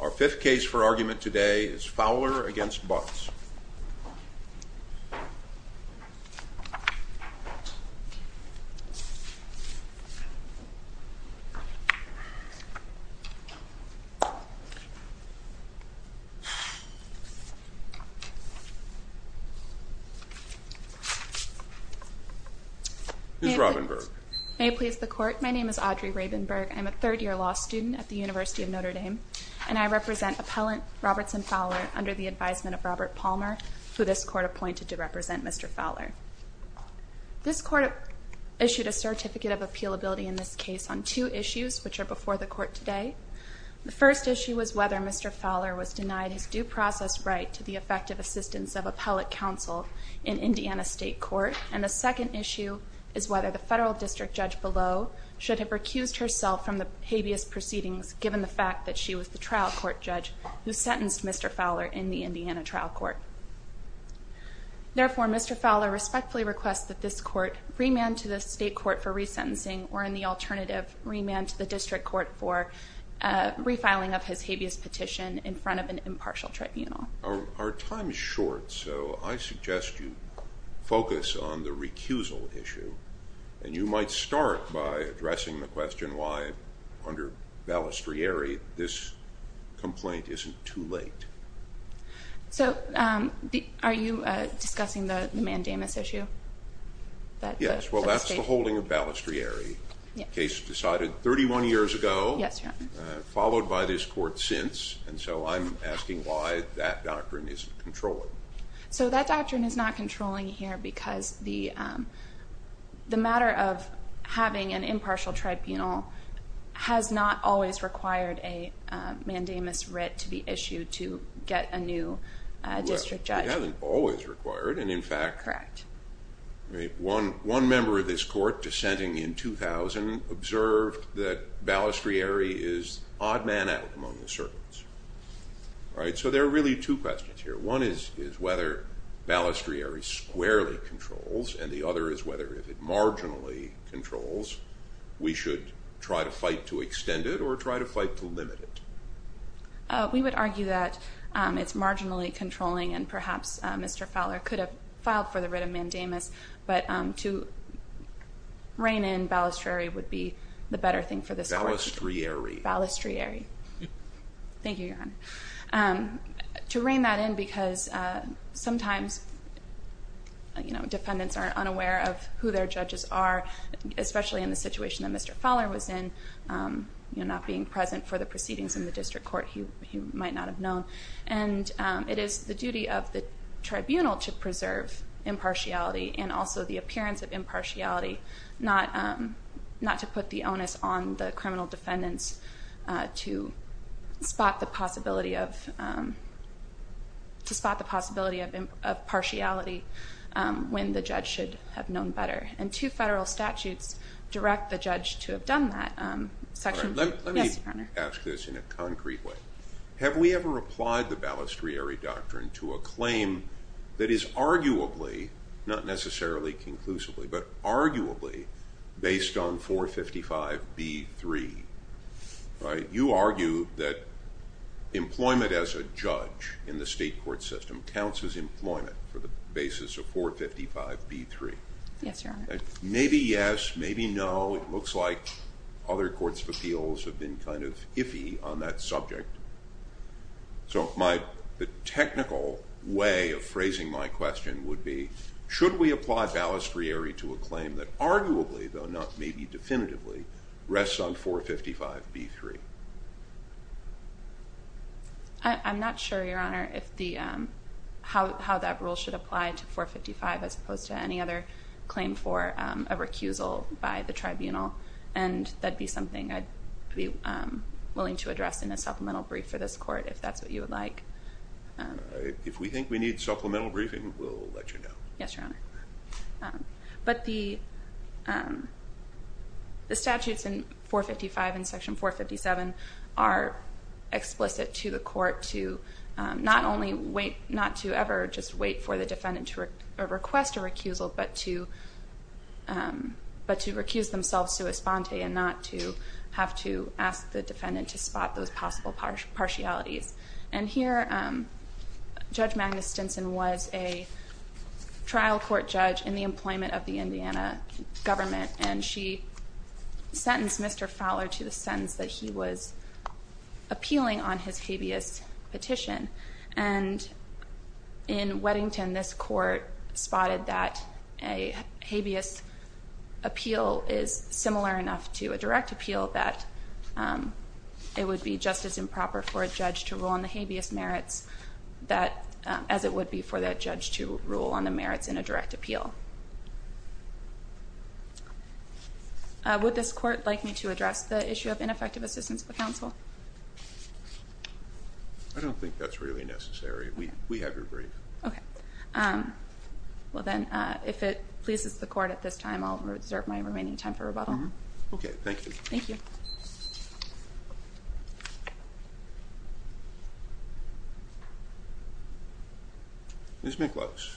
Our fifth case for argument today is Fowler v. Butts. Ms. Robinburg. May it please the Court, my name is Audrey Rabenburg, I'm a third-year law student at the University of Notre Dame, and I represent Appellant Robertson Fowler under the advisement of Robert Palmer, who this Court appointed to represent Mr. Fowler. This Court issued a Certificate of Appealability in this case on two issues which are before the Court today. The first issue was whether Mr. Fowler was denied his due process right to the effective assistance of appellate counsel in Indiana State Court, and the second issue is whether the federal district judge below should have recused herself from the habeas proceedings given the fact that she was the trial court judge who sentenced Mr. Fowler in the Indiana trial court. Therefore, Mr. Fowler respectfully requests that this Court remand to the State Court for resentencing or, in the alternative, remand to the district court for refiling of his habeas petition in front of an impartial tribunal. Our time is short, so I suggest you focus on the recusal issue, and you might start by addressing the question why, under Balistrieri, this complaint isn't too late. So are you discussing the mandamus issue? Yes, well, that's the holding of Balistrieri. The case was decided 31 years ago, followed by this Court since, and so I'm asking why that doctrine isn't controlling. So that doctrine is not controlling here because the matter of having an impartial tribunal has not always required a mandamus writ to be issued to get a new district judge. Well, it hasn't always required, and in fact, one member of this Court, dissenting in 2000, observed that Balistrieri is odd man out among the servants. So there are really two questions here. One is whether Balistrieri squarely controls, and the other is whether if it marginally controls, we should try to fight to extend it or try to fight to limit it. We would argue that it's marginally controlling, and perhaps Mr. Fowler could have filed for the writ of mandamus, but to rein in Balistrieri would be the better thing for this Court. Balistrieri. Thank you, Your Honor. To rein that in because sometimes defendants are unaware of who their judges are, especially in the situation that Mr. Fowler was in, not being present for the proceedings in the district court, he might not have known. And it is the duty of the tribunal to preserve impartiality and also the appearance of impartiality, not to put the onus on the criminal defendants to spot the possibility of partiality when the judge should have known better. And two federal statutes direct the judge to have done that. Let me ask this in a concrete way. Have we ever applied the Balistrieri doctrine to a claim that is arguably, not necessarily conclusively, but arguably based on 455b-3? You argue that employment as a judge in the state court system counts as employment for the basis of 455b-3. Yes, Your Honor. Maybe yes, maybe no. Well, it looks like other courts of appeals have been kind of iffy on that subject. So the technical way of phrasing my question would be, should we apply Balistrieri to a claim that arguably, though not maybe definitively, rests on 455b-3? I'm not sure, Your Honor, how that rule should apply to 455 as opposed to any other claim for a recusal by the tribunal. And that'd be something I'd be willing to address in a supplemental brief for this court, if that's what you would like. If we think we need supplemental briefing, we'll let you know. Yes, Your Honor. But the statutes in 455 and Section 457 are explicit to the court to not only wait, not to ever just wait for the defendant to request a recusal, but to recuse themselves to esponte and not to have to ask the defendant to spot those possible partialities. And here, Judge Magnus Stinson was a trial court judge in the employment of the Indiana government, and she sentenced Mr. Fowler to the sentence that he was appealing on his habeas petition. And in Weddington, this court spotted that a habeas appeal is similar enough to a direct appeal that it would be just as improper for a judge to rule on the habeas merits as it would be for that judge to rule on the merits in a direct appeal. Would this court like me to address the issue of ineffective assistance for counsel? I don't think that's really necessary. We have your brief. Okay. Well, then, if it pleases the court at this time, I'll reserve my remaining time for rebuttal. Okay. Thank you. Thank you. Ms. McClose.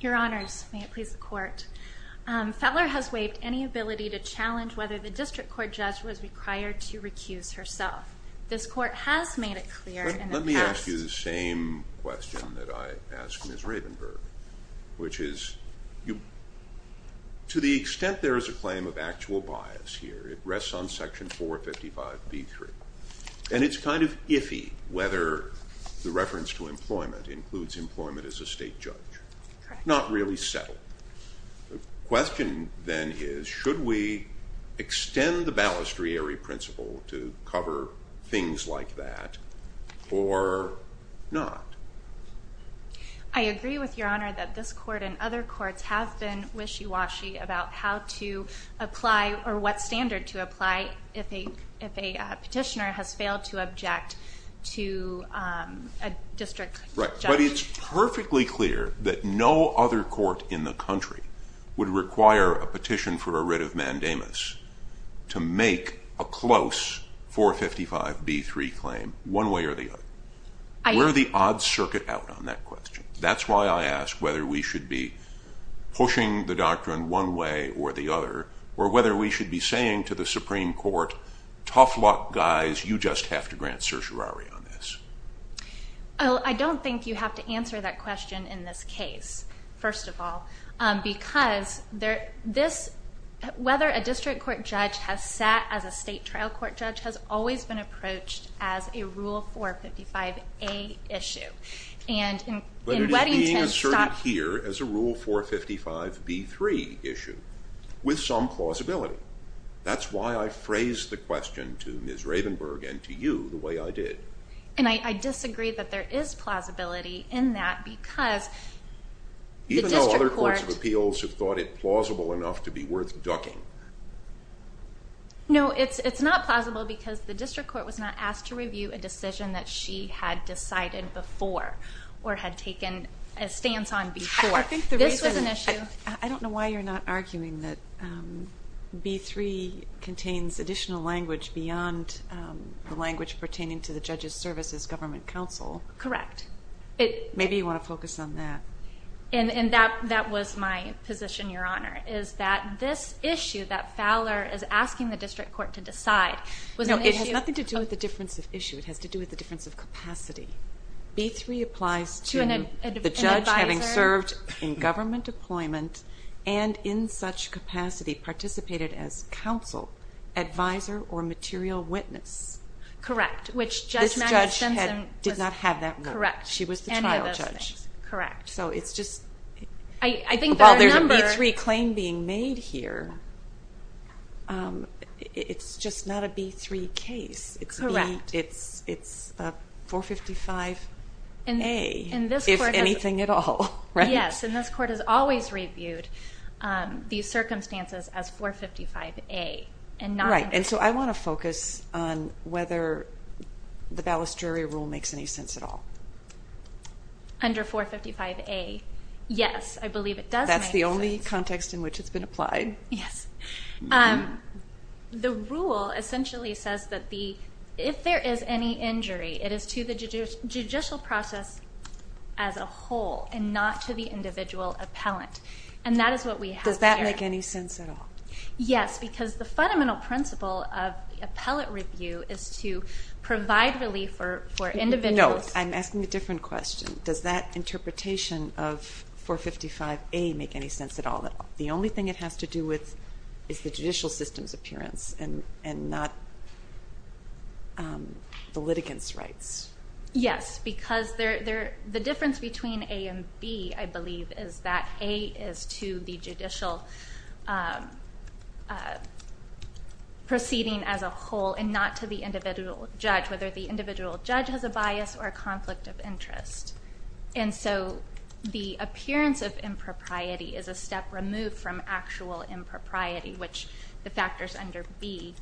Your Honors, may it please the court. Fowler has waived any ability to challenge whether the district court judge was required to recuse herself. This court has made it clear in the past. Let me ask you the same question that I asked Ms. Ravenberg, which is, to the extent there is a claim of actual bias here, it rests on Section 455B3. And it's kind of iffy whether the reference to employment includes employment as a state judge. Correct. Not really settled. The question, then, is should we extend the balustrieri principle to cover things like that or not? I agree with Your Honor that this court and other courts have been wishy-washy about how to apply or what standard to apply if a petitioner has failed to object to a district judge. Right. But it's perfectly clear that no other court in the country would require a petition for a writ of mandamus to make a close 455B3 claim one way or the other. We're the odd circuit out on that question. That's why I ask whether we should be pushing the doctrine one way or the other or whether we should be saying to the Supreme Court, tough luck, guys, you just have to grant certiorari on this. I don't think you have to answer that question in this case, first of all, because whether a district court judge has sat as a state trial court judge has always been approached as a Rule 455A issue. But it is being asserted here as a Rule 455B3 issue with some plausibility. That's why I phrased the question to Ms. Ravenberg and to you the way I did. And I disagree that there is plausibility in that because the district court Even though other courts of appeals have thought it plausible enough to be worth ducking. No, it's not plausible because the district court was not asked to review a decision that she had decided before or had taken a stance on before. This was an issue. I don't know why you're not arguing that B3 contains additional language beyond the language pertaining to the Judges Services Government Council. Correct. Maybe you want to focus on that. And that was my position, Your Honor, is that this issue that Fowler is asking the district court to decide was an issue. No, it has nothing to do with the difference of issue. It has to do with the difference of capacity. B3 applies to the judge having served in government deployment and in such capacity participated as counsel, advisor, or material witness. Correct. This judge did not have that role. Correct. She was the trial judge. Correct. So it's just while there's a B3 claim being made here, it's just not a B3 case. Correct. It's a 455A, if anything at all. Yes, and this court has always reviewed these circumstances as 455A. Right, and so I want to focus on whether the balustrary rule makes any sense at all. Under 455A, yes, I believe it does make sense. That's the only context in which it's been applied? Yes. The rule essentially says that if there is any injury, it is to the judicial process as a whole and not to the individual appellant. And that is what we have here. Does that make any sense at all? Yes, because the fundamental principle of appellate review is to provide relief for individuals. No, I'm asking a different question. Does that interpretation of 455A make any sense at all? The only thing it has to do with is the judicial system's appearance and not the litigants' rights. Yes, because the difference between A and B, I believe, is that A is to the judicial proceeding as a whole and not to the individual judge, whether the individual judge has a bias or a conflict of interest. And so the appearance of impropriety is a step removed from actual impropriety, which the factors under B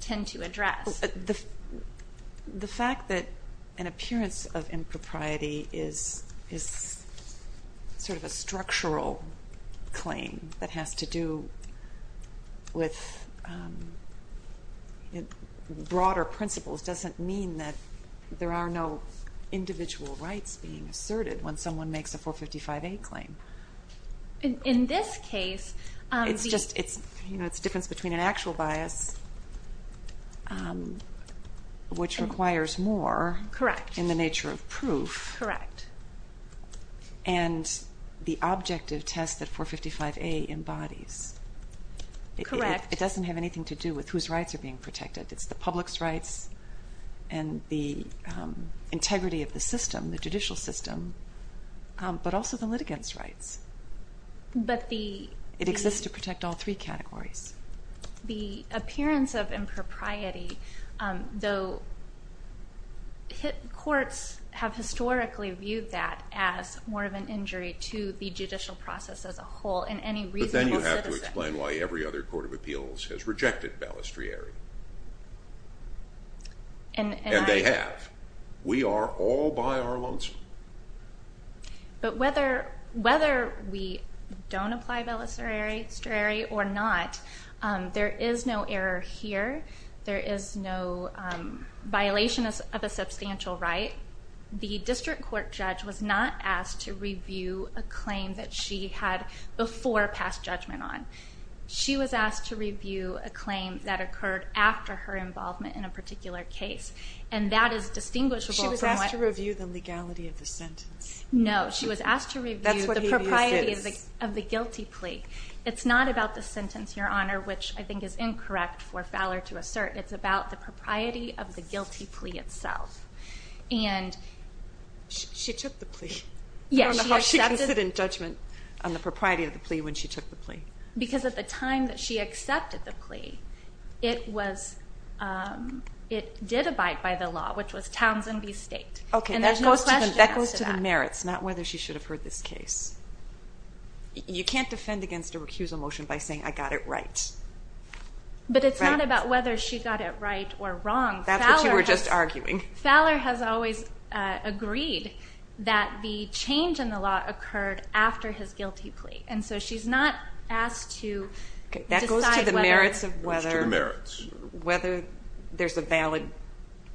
tend to address. The fact that an appearance of impropriety is sort of a structural claim that has to do with broader principles doesn't mean that there are no individual rights being asserted when someone makes a 455A claim. In this case, it's just a difference between an actual bias, which requires more in the nature of proof, and the objective test that 455A embodies. It doesn't have anything to do with whose rights are being protected. It's the public's rights and the integrity of the system, the judicial system, but also the litigants' rights. It exists to protect all three categories. The appearance of impropriety, though courts have historically viewed that as more of an injury to the judicial process as a whole in any reasonable citizen. But then you have to explain why every other court of appeals has rejected balustrere. And they have. We are all by our lonesome. But whether we don't apply balustrere or not, there is no error here. There is no violation of a substantial right. The district court judge was not asked to review a claim that she had before passed judgment on. She was asked to review a claim that occurred after her involvement in a particular case, and that is distinguishable from what... No, she was asked to review the propriety of the guilty plea. It's not about the sentence, Your Honor, which I think is incorrect for Fowler to assert. It's about the propriety of the guilty plea itself. And... She took the plea. Yes, she accepted... I don't know how she can sit in judgment on the propriety of the plea when she took the plea. Because at the time that she accepted the plea, it did abide by the law, which was Townsend v. State. Okay, that goes to the merits, not whether she should have heard this case. You can't defend against a recusal motion by saying, I got it right. But it's not about whether she got it right or wrong. That's what you were just arguing. Fowler has always agreed that the change in the law occurred after his guilty plea, and so she's not asked to decide whether... Okay, that goes to the merits of whether... It goes to the merits. ...whether there's a valid,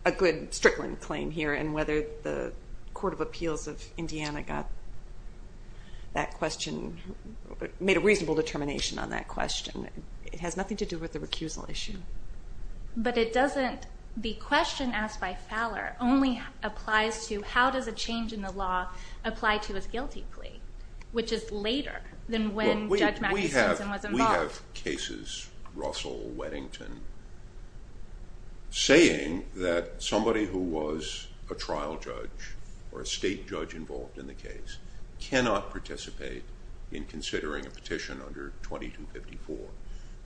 a good Strickland claim here and whether the Court of Appeals of Indiana got that question, made a reasonable determination on that question. It has nothing to do with the recusal issue. But it doesn't... The question asked by Fowler only applies to how does a change in the law apply to his guilty plea, which is later than when Judge Magnuson was involved. We have cases, Russell, Weddington, saying that somebody who was a trial judge or a state judge involved in the case cannot participate in considering a petition under 2254.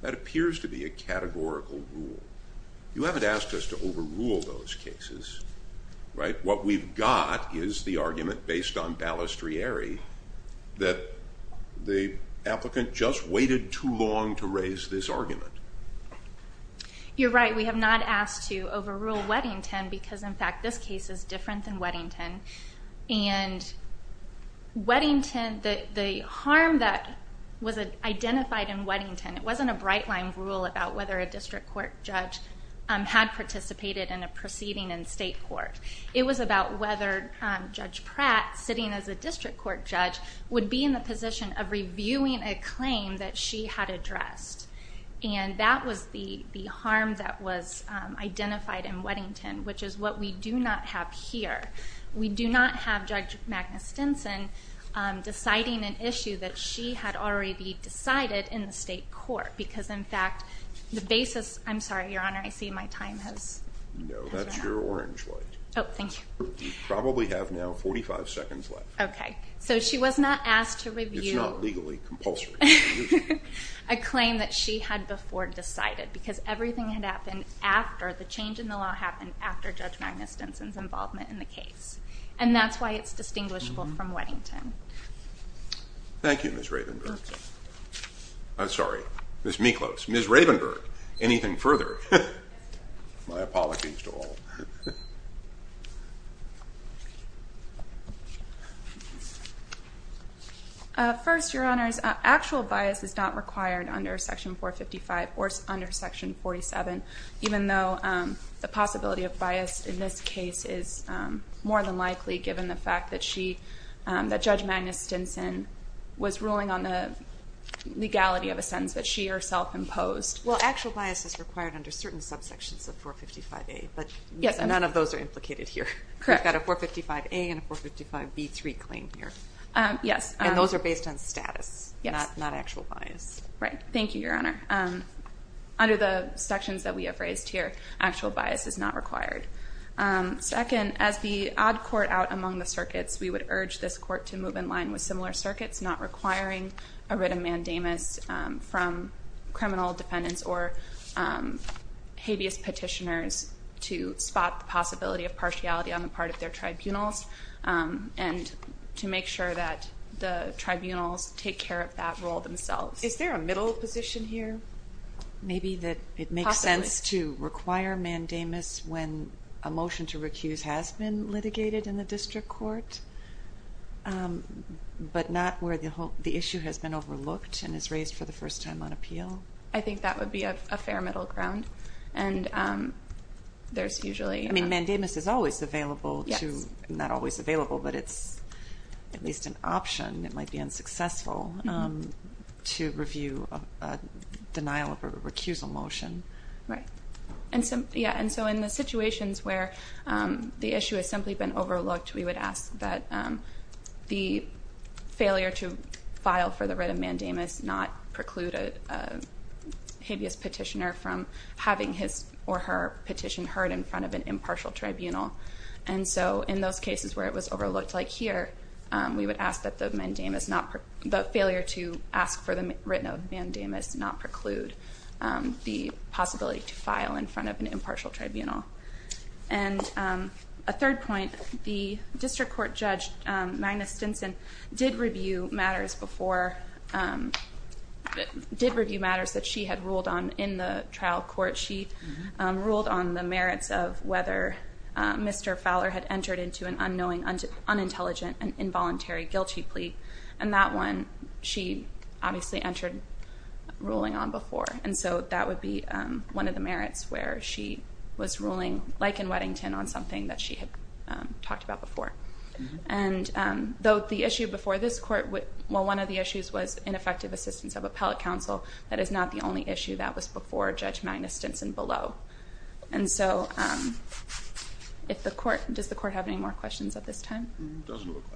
That appears to be a categorical rule. You haven't asked us to overrule those cases, right? What we've got is the argument based on balustrieri that the applicant just waited too long to raise this argument. You're right. We have not asked to overrule Weddington because, in fact, this case is different than Weddington. And Weddington, the harm that was identified in Weddington, it wasn't a bright-line rule about whether a district court judge had participated in a proceeding in state court. It was about whether Judge Pratt, sitting as a district court judge, would be in the position of reviewing a claim that she had addressed. And that was the harm that was identified in Weddington, which is what we do not have here. We do not have Judge Magnuson deciding an issue that she had already decided in the state court because, in fact, the basis... I'm sorry, Your Honor, I see my time has run out. No, that's your orange light. Oh, thank you. You probably have now 45 seconds left. Okay. So she was not asked to review... It's not legally compulsory. ...a claim that she had before decided because everything had happened after the change in the law happened after Judge Magnuson's involvement in the case. And that's why it's distinguishable from Weddington. Thank you, Ms. Ravenberg. I'm sorry, Ms. Miklos. Ms. Ravenberg, anything further? My apologies to all. First, Your Honors, actual bias is not required under Section 455 or under Section 47, even though the possibility of bias in this case is more than likely given the fact that Judge Magnuson was ruling on the legality of a sentence that she herself imposed. Well, actual bias is required under certain subsections of 455A, but none of those are implicated here. Correct. We've got a 455A and a 455B3 claim here. Yes. And those are based on status, not actual bias. Right. Thank you, Your Honor. Under the sections that we have raised here, actual bias is not required. Second, as the odd court out among the circuits, we would urge this court to move in line with similar circuits, not requiring a writ of mandamus from criminal defendants or habeas petitioners to spot the possibility of partiality on the part of their tribunals and to make sure that the tribunals take care of that role themselves. Is there a middle position here? Maybe that it makes sense to require mandamus when a motion to recuse has been litigated in the district court, but not where the issue has been overlooked and is raised for the first time on appeal? I think that would be a fair middle ground. I mean, mandamus is not always available, but it's at least an option. It might be unsuccessful to review a denial of a recusal motion. Right. And so in the situations where the issue has simply been overlooked, we would ask that the failure to file for the writ of mandamus not preclude a habeas petitioner from having his or her petition heard in front of an impartial tribunal. And so in those cases where it was overlooked, like here, we would ask that the failure to ask for the writ of mandamus not preclude the possibility to file in front of an impartial tribunal. And a third point, the district court judge, Magnus Stinson, did review matters that she had ruled on in the trial court. She ruled on the merits of whether Mr. Fowler had entered into an unknowing, unintelligent, and involuntary guilty plea. And that one she obviously entered ruling on before. And so that would be one of the merits where she was ruling, like in Weddington, on something that she had talked about before. And though the issue before this court, well, one of the issues was ineffective assistance of appellate counsel, that is not the only issue that was before Judge Magnus Stinson below. And so does the court have any more questions at this time? Doesn't look like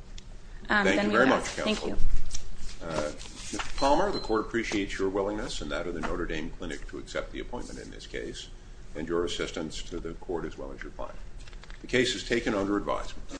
it. Thank you very much, counsel. Thank you. Mr. Palmer, the court appreciates your willingness and that of the Notre Dame Clinic to accept the appointment in this case, and your assistance to the court as well as your client. The case is taken under advisement.